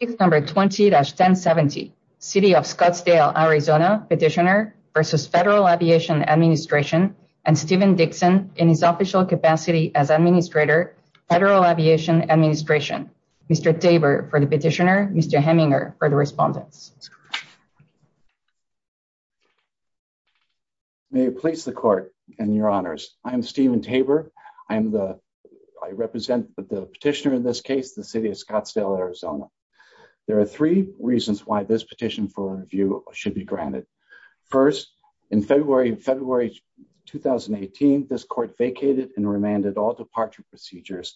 Petitioner v. Federal Aviation Administration and Steven Dixon, in his official capacity as Administrator, Federal Aviation Administration, Mr. Tabor for the Petitioner, Mr. Hemminger for the Respondents. May it please the Court and your Honors, I am Steven Tabor, I represent the Petitioner in this case, the City of Scottsdale, Arizona. There are three reasons why this Petition for Review should be granted. First, in February 2018, this Court vacated and remanded all departure procedures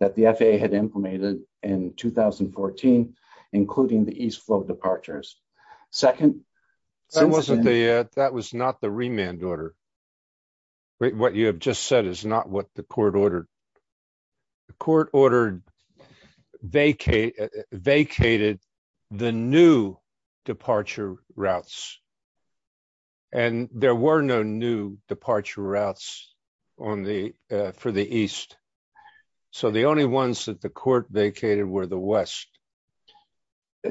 that the FAA had implemented in 2014, including the East Flow departures. Second, since then... That was not the remand order. What you have just said is not what the Court ordered. The Court ordered, vacated the new departure routes. And there were no new departure routes for the East. So the only ones that the Court vacated were the West.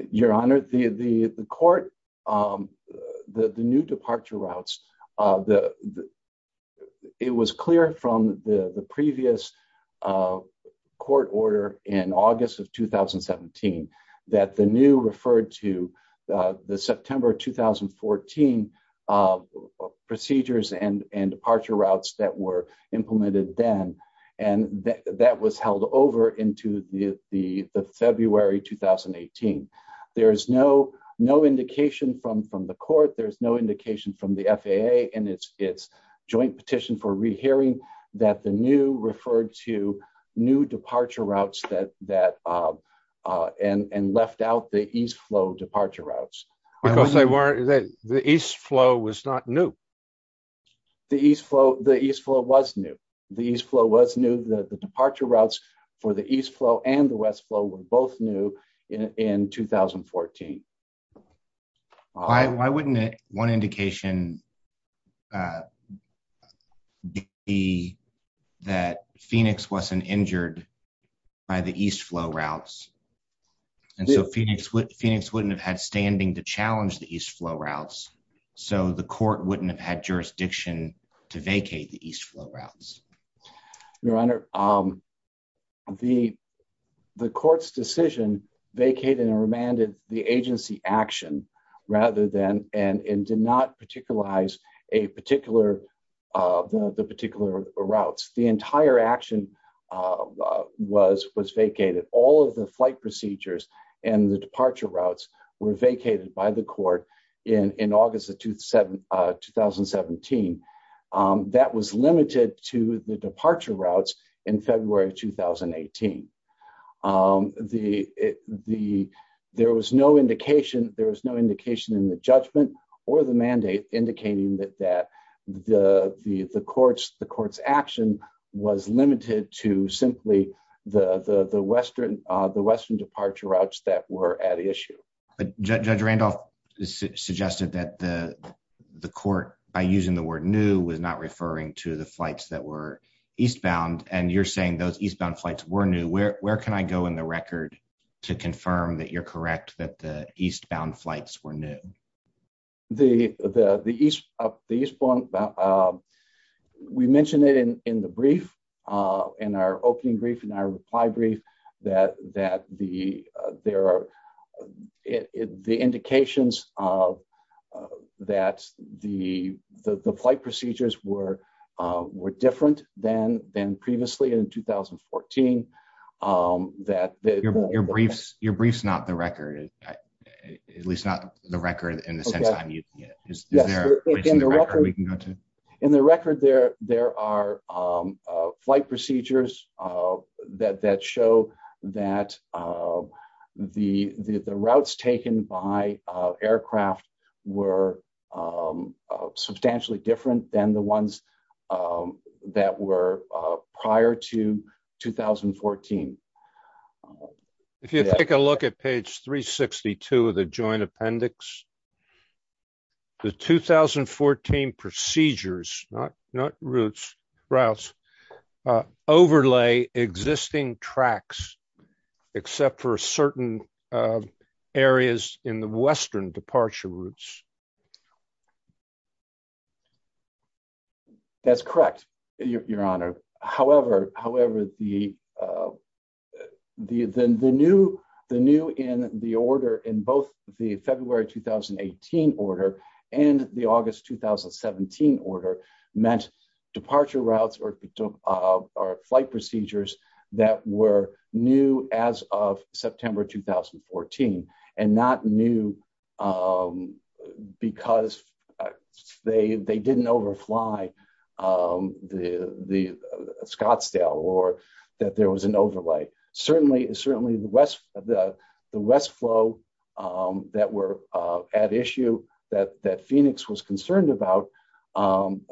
Your Honor, the Court, the new departure routes, it was clear from the previous Court order in August of 2017 that the new referred to the September 2014 procedures and departure routes that were implemented then, and that was held over into the February 2018. There's no indication from the Court, there's no indication from the FAA in its joint petition for rehearing that the new referred to new departure routes and left out the East Flow departure routes. Because the East Flow was not new. The East Flow was new. The East Flow was new, the departure routes for the East Flow and the West Flow were both new in 2014. Why wouldn't one indication be that Phoenix wasn't injured by the East Flow routes? And so Phoenix wouldn't have had standing to challenge the East Flow routes. So the Court wouldn't have had jurisdiction to vacate the East Flow routes. Your Honor, the Court's decision vacated and remanded the agency action rather than, and did not particularize the particular routes. The entire action was vacated. All of the flight procedures and the departure routes were vacated by the Court in August of 2017. That was limited to the departure routes in February 2018. There was no indication in the judgment or the mandate indicating that the Court's action was limited to simply the Western departure routes that were at issue. Judge Randolph suggested that the Court, by using the word new, was not referring to the flights that were eastbound. And you're saying those eastbound flights were new. Where can I go in the record to confirm that you're correct that the eastbound flights were new? The eastbound, we mentioned it in the brief, in our opening brief, in our reply brief, that there are the indications that the flight procedures were different than previously in 2014. Your brief's not the record, at least not the record in the sense I'm using it. Is there a place in the record we can go to? In the record, there are flight procedures that show that the routes taken by aircraft were substantially different than the ones that were prior to 2014. If you take a look at page 362 of the Joint Appendix, the 2014 procedures, not routes, overlay existing tracks except for certain areas in the Western departure routes. That's correct, Your Honor. However, the new in the order in both the February 2018 order and the August 2017 order meant departure routes or flight procedures that were new as of September 2014 and not new because they didn't overfly the Scottsdale or that there was an overlay. Certainly, the west flow that were at issue that Phoenix was concerned about,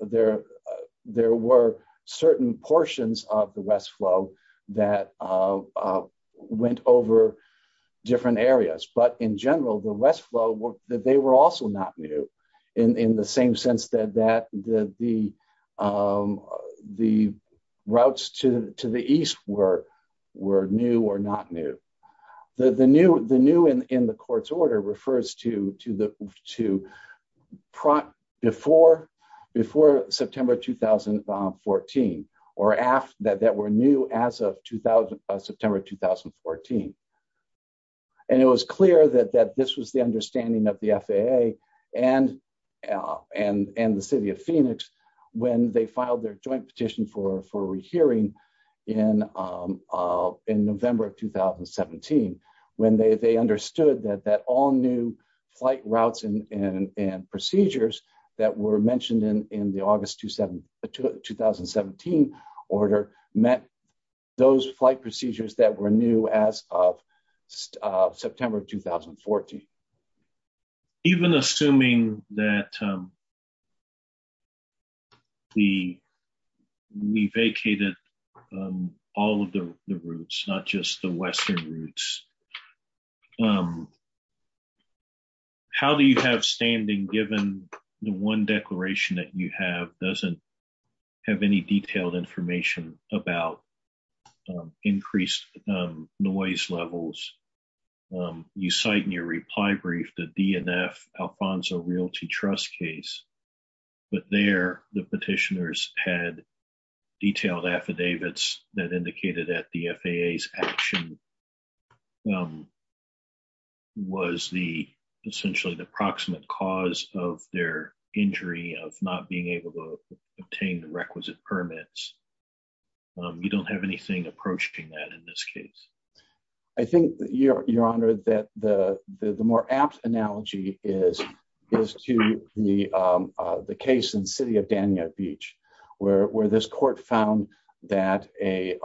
there were certain portions of the west flow that went over different areas. But in general, the west flow, they were also not new in the same sense that the routes to the east were new or not new. The new in the court's order refers to before September 2014 or that were new as of September 2014. It was clear that this was the understanding of the FAA and the City of Phoenix when they petitioned for a rehearing in November of 2017 when they understood that all new flight routes and procedures that were mentioned in the August 2017 order met those flight procedures that were new as of September 2014. Even assuming that we vacated all of the routes, not just the western routes, how do you have standing given the one declaration that you have doesn't have any DNF Alfonso Realty Trust case, but there the petitioners had detailed affidavits that indicated that the FAA's action was essentially the proximate cause of their injury of not being able to obtain the requisite permits. You don't have anything approaching that in this case. I think, Your Honor, that the more apt analogy is to the case in the City of Danube Beach where this court found that a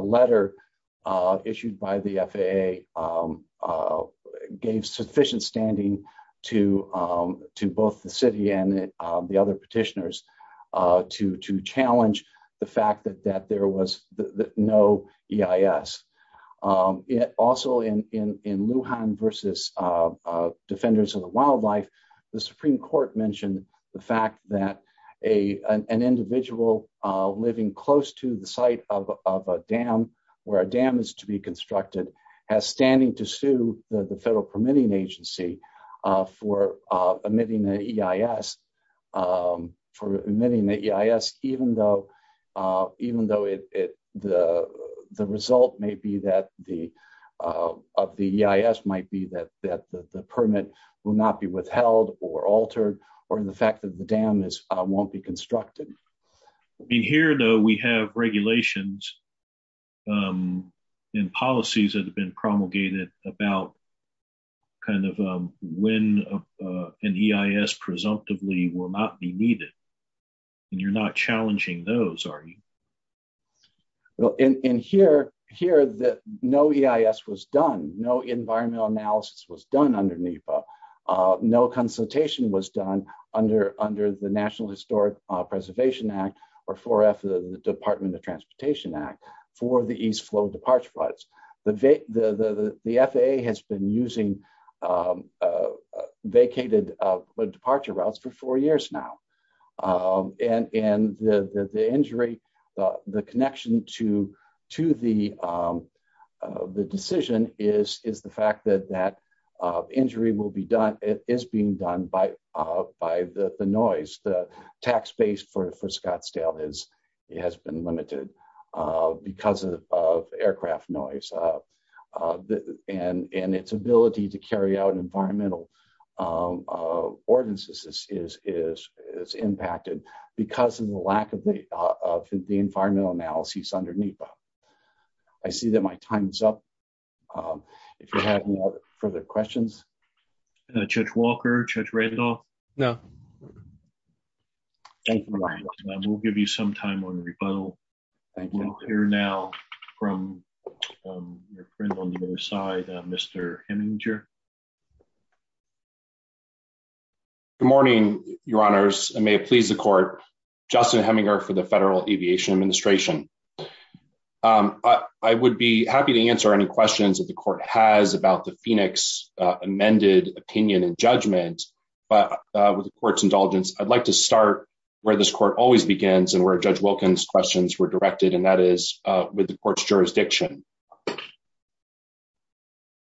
letter issued by the FAA gave sufficient standing to both the City and the other petitioners to challenge the fact that there was no EIS. Also in Lujan v. Defenders of the Wildlife, the Supreme Court mentioned the fact that an individual living close to the site of a dam where a dam is to be constructed has standing to sue the Federal Permitting Agency for omitting the EIS, for omitting the EIS, even though the result of the EIS might be that the permit will not be withheld or altered or the fact that the dam won't be constructed. Here, though, we have regulations and policies that have been promulgated about when an EIS presumptively will not be needed. You're not challenging those, are you? Well, in here, no EIS was done. No environmental analysis was done under NEPA. No consultation was done under the National Historic Preservation Act or 4F, the Department of Natural Resources, vacated departure routes for four years now. And the injury, the connection to the decision is the fact that that injury is being done by the noise. The tax base for Scottsdale has been limited because of aircraft noise. And its ability to carry out environmental ordinances is impacted because of the lack of the environmental analysis under NEPA. I see that my time is up. If you have any further questions? Judge Walker? Judge Randolph? No. Thank you. We'll give you some time on rebuttal. We'll hear now from your friend on the other side, Mr. Heminger. Good morning, Your Honors. And may it please the Court, Justin Heminger for the Federal Aviation Administration. I would be happy to answer any questions that the Court has about the Phoenix amended opinion and judgment. But with the Court's indulgence, I'd like to start where this Court always begins and where Judge Wilkins' questions were directed, and that is with the Court's jurisdiction.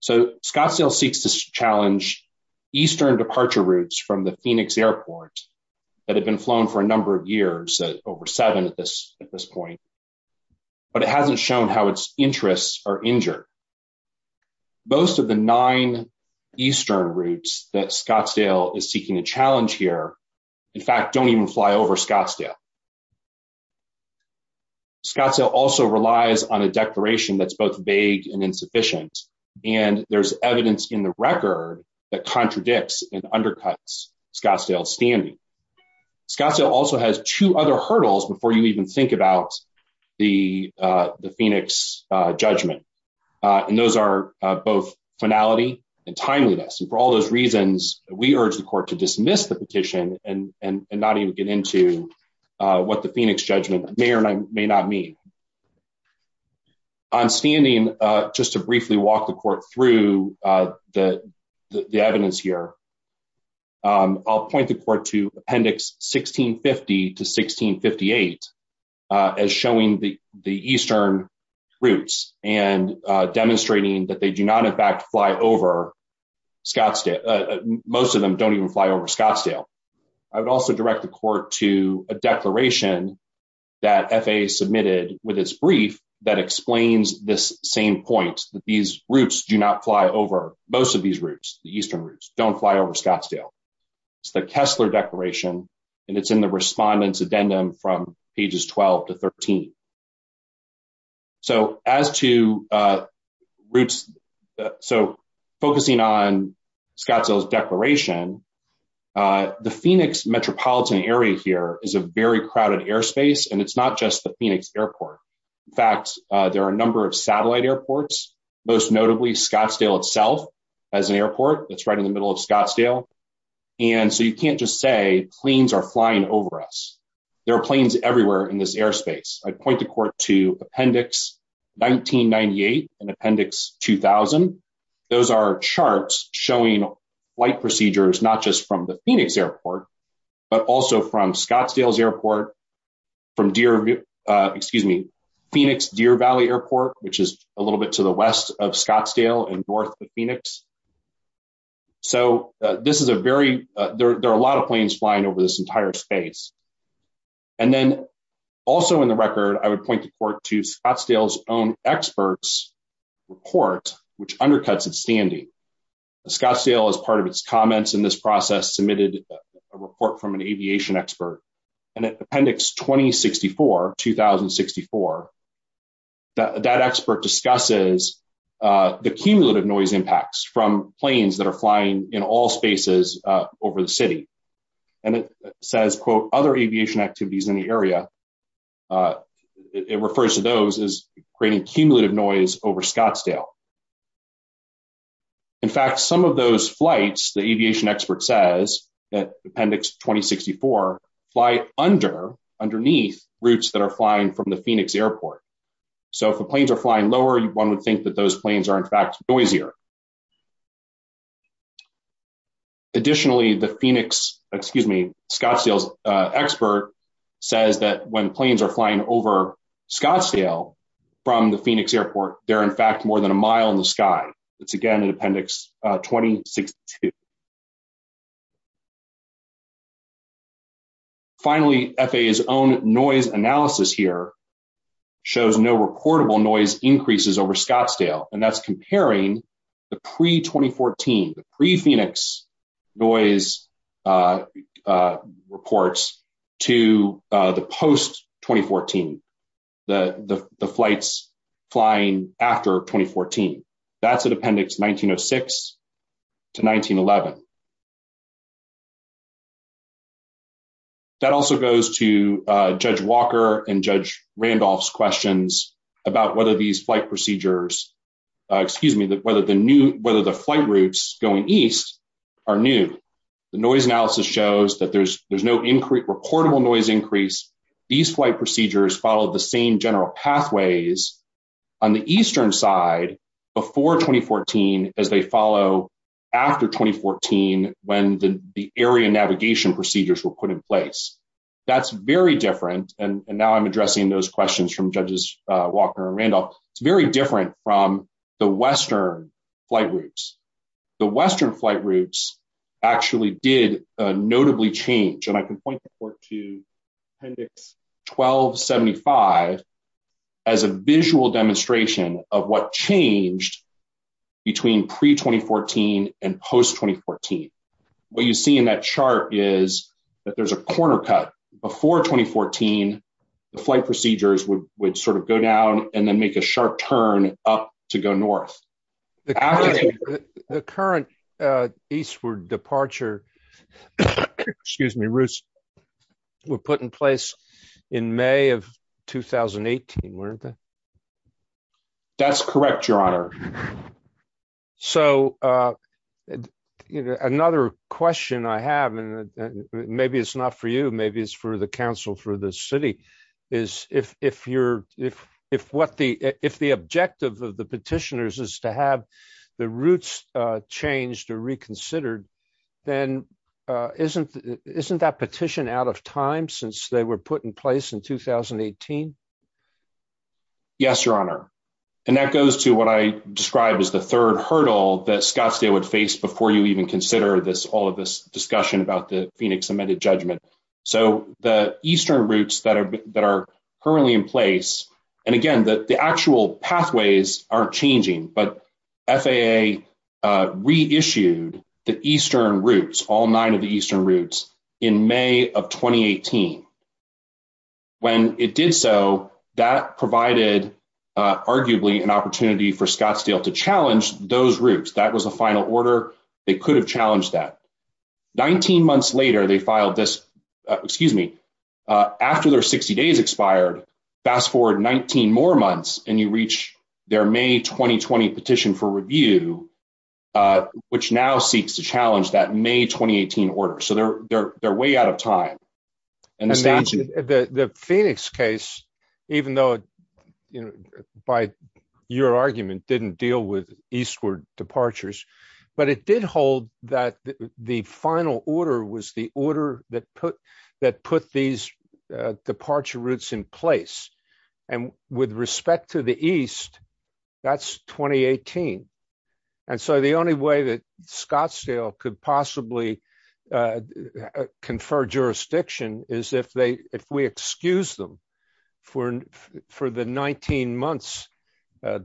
So Scottsdale seeks to challenge eastern departure routes from the Phoenix airport that had been flown for a number of years, over seven at this point. But it hasn't shown how its interests are injured. Most of the nine eastern routes that Scottsdale is seeking to challenge here, in fact, don't even fly over Scottsdale. Scottsdale also relies on a declaration that's both vague and insufficient. And there's evidence in the record that contradicts and undercuts Scottsdale's standing. Scottsdale also has two other hurdles before you even think about the Phoenix judgment. And those are both finality and timeliness. And for all those reasons, we urge the Court to dismiss the petition and not even get into what the Phoenix judgment may or may not mean. I'm standing just to briefly walk the Court through the evidence here. I'll point the Court to Appendix 1650 to 1658 as showing the eastern routes and demonstrating that they do not, in fact, fly over Scottsdale. Most of them don't even fly over Scottsdale. I would also direct the Court to a declaration that FAA submitted with its brief that explains this same point that these routes do not fly over most of these routes, the eastern routes, don't fly over Scottsdale. It's the Kessler Declaration, and it's in the Respondent's Addendum from pages 12 to 13. So as to routes, so focusing on Scottsdale's declaration, the Phoenix metropolitan area here is a very crowded airspace, and it's not just the Phoenix airport. In fact, there are a number of satellite airports, most notably Scottsdale itself as an airport that's right in the middle of Scottsdale. And so you can't just say planes are flying over us. There are planes everywhere in this airspace. I'd point the Court to Appendix 1998 and Appendix 2000. Those are charts showing flight procedures, not just from the Phoenix airport, but also from Scottsdale's airport, from Phoenix-Deer Valley airport, which is a little bit to the west of Scottsdale and north of Phoenix. So this is a very, there are a lot of planes flying over this entire space. And then also in the record, I would point the Court to Scottsdale's own experts report, which undercuts its standing. Scottsdale, as part of its comments in this process, submitted a report from an aviation expert. And in Appendix 2064, that expert discusses the cumulative noise impacts from planes that are flying in all spaces over the city. And it says, quote, other aviation activities in the area. It refers to those as creating cumulative noise over Scottsdale. In fact, some of those flights, the aviation expert says, that Appendix 2064 fly under, underneath routes that are flying from the Phoenix airport. So if the planes are flying lower, one would think that those planes are in fact noisier. Additionally, the Phoenix, excuse me, Scottsdale's expert says that when planes are flying over Scottsdale from the Phoenix airport, they're in fact more than a mile in the sky. It's again, in Appendix 2062. Finally, FAA's own noise analysis here shows no reportable noise increases over Scottsdale. And that's comparing the pre-2014, the pre-Phoenix noise reports to the post-2014, the flights flying after 2014. That's at Appendix 1906 to 1911. That also goes to Judge Walker and Judge Randolph's questions about whether these flight procedures, excuse me, whether the new, whether the flight routes going east are new. The noise analysis shows that there's no reportable noise increase. These flight procedures follow the same general pathways on the eastern side before 2014, as they follow after 2014 when the area navigation procedures were put in place. That's very different. And now I'm addressing those questions from Judges Walker and Randolph. It's very different from the western flight routes. The western flight routes actually did notably change. And I can point to Appendix 1275 as a visual demonstration of what changed between pre-2014 and post-2014. What you see in that chart is that there's a corner cut. Before 2014, the flight procedures would sort of go down and then make a sharp turn up to go north. The current eastward departure, excuse me, Ruth, were put in place in May of 2018, weren't they? That's correct, Your Honor. So another question I have, and maybe it's not for you, maybe it's for the Council, for the City, is if the objective of the petitioners is to have the routes changed or reconsidered, then isn't that petition out of time since they were put in place in 2018? Yes, Your Honor. And that goes to what I described as the third hurdle that Scottsdale would face before you even consider all of this discussion about the Phoenix Amended Judgment. So the eastern routes that are currently in place, and again, the actual pathways aren't changing, but FAA reissued the eastern routes, all nine of the eastern routes, in May of 2018. When it did so, that provided arguably an opportunity for Scottsdale to challenge those routes. That was a final order. They could have challenged that. 19 months later, they filed this, excuse me, after their 60 days expired, fast forward 19 more months, and you reach their May 2020 petition for review, which now seeks to challenge that May 2018 order. So they're way out of time. And the Phoenix case, even though, by your argument, didn't deal with eastward departures, but it did hold that the final order was the order that put these departure routes in place. And with respect to the east, that's 2018. And so the only way that Scottsdale could possibly confer jurisdiction is if we excuse them for the 19 months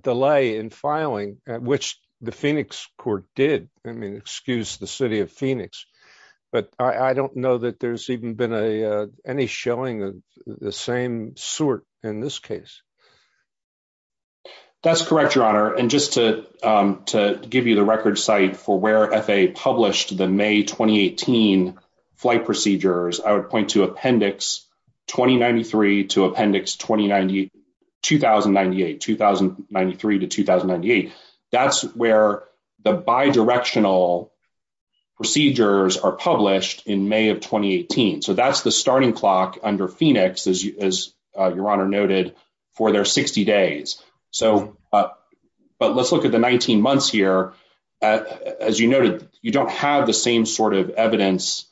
delay in filing, which the Phoenix court did, I mean, excuse the city of Phoenix. But I don't know that there's even been any showing of the same sort in this case. That's correct, your honor. And just to give you the record site for where FAA published the May 2018 flight procedures, I would point to appendix 2093 to appendix 2098, 2093 to 2098. That's where the bidirectional procedures are published in May of 2018. So that's the starting clock under Phoenix, as your honor noted, for their 60 days. But let's look at the 19 months here. As you noted, you don't have the same sort of evidence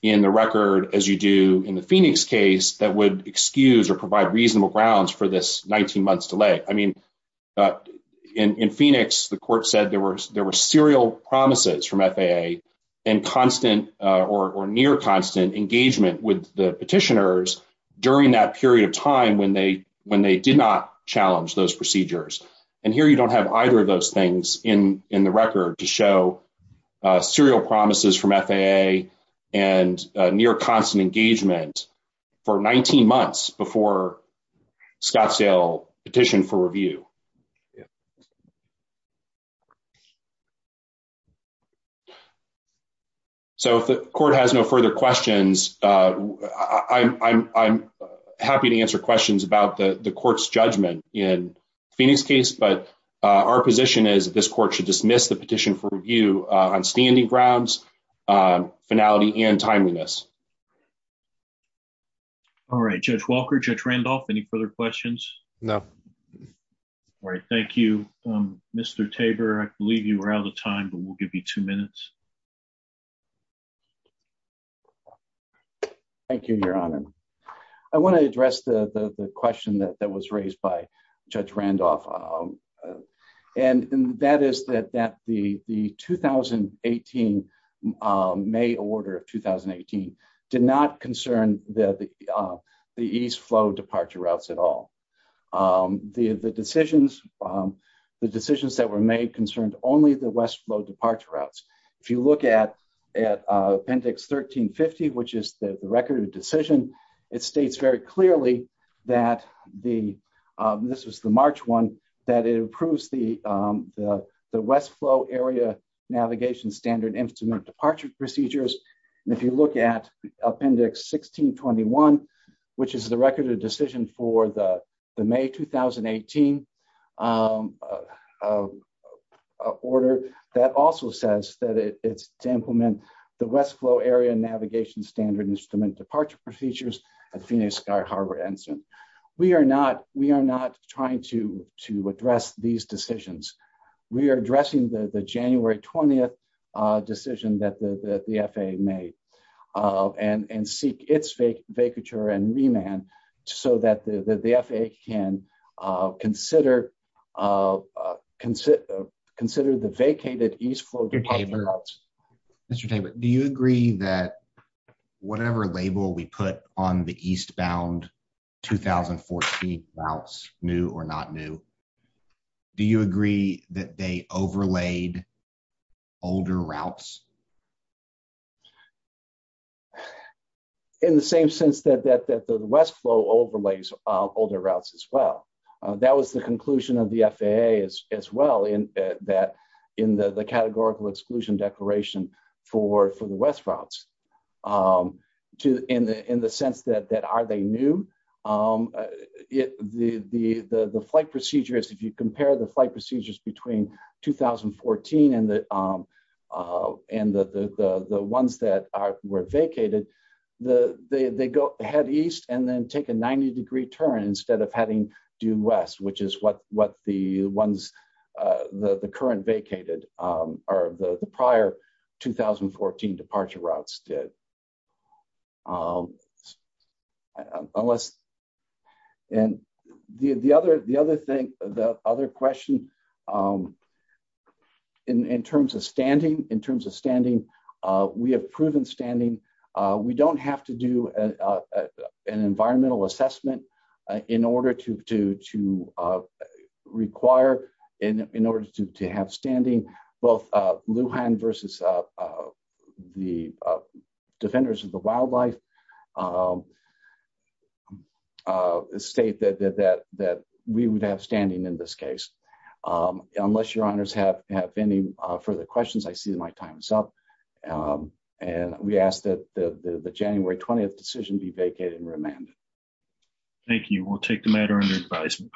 in the record as you do in the Phoenix case that would excuse or provide reasonable grounds for this 19 months delay. I mean, in Phoenix, the court said there were serial promises from FAA and constant or near constant engagement with the petitioners during that period of time when they did not challenge those procedures. And here you don't have either of those things in the record to show serial promises from FAA and near constant engagement for 19 months before Scottsdale petitioned for review. Yeah. So if the court has no further questions, I'm happy to answer questions about the court's judgment in Phoenix case. But our position is this court should dismiss the petition for review on standing grounds, finality and timeliness. All right, Judge Walker, Judge Randolph, any further questions? No. All right. Thank you, Mr. Tabor. I believe you are out of time, but we'll give you two minutes. Thank you, Your Honor. I want to address the question that was raised by Judge Randolph. And that is that the 2018, May order of 2018 did not concern the East flow departure routes at all. The decisions that were made concerned only the West flow departure routes. If you look at Appendix 1350, which is the record of decision, it states very clearly that the, this was the March one, that it approves the West flow area navigation standard instrument departure procedures. And if you look at Appendix 1621, which is the record of decision for the May 2018 order, that also says that it's to implement the West flow area navigation standard instrument departure procedures at Phoenix Sky Harbor Ensign. We are not, we are not trying to address these decisions. We are addressing the January 20th decision that the FAA made and seek its vacature and remand so that the FAA can consider the vacated East flow departure routes. Mr. Tabor, do you agree that whatever label we put on the East bound 2014 routes, new or not new? Do you agree that they overlaid older routes? In the same sense that the West flow overlays older routes as well. That was the conclusion of the FAA as well in that, in the categorical exclusion declaration for the West routes. In the sense that are they new? The flight procedures, if you compare the flight procedures between 2014 and the ones that were vacated, they go ahead East and then take a 90 degree turn instead of heading due West, which is what the ones, the current vacated or the prior 2014 departure routes did. And the other thing, the other question in terms of standing, in terms of standing, we have proven standing. We don't have to do an environmental assessment in order to require, in order to have standing both Lujan versus the defenders of the wildlife state that we would have standing in this case. Unless your honors have any further questions, I see my time is up and we ask that the January 20th decision be vacated and remanded. Thank you. We'll take the matter under advisement.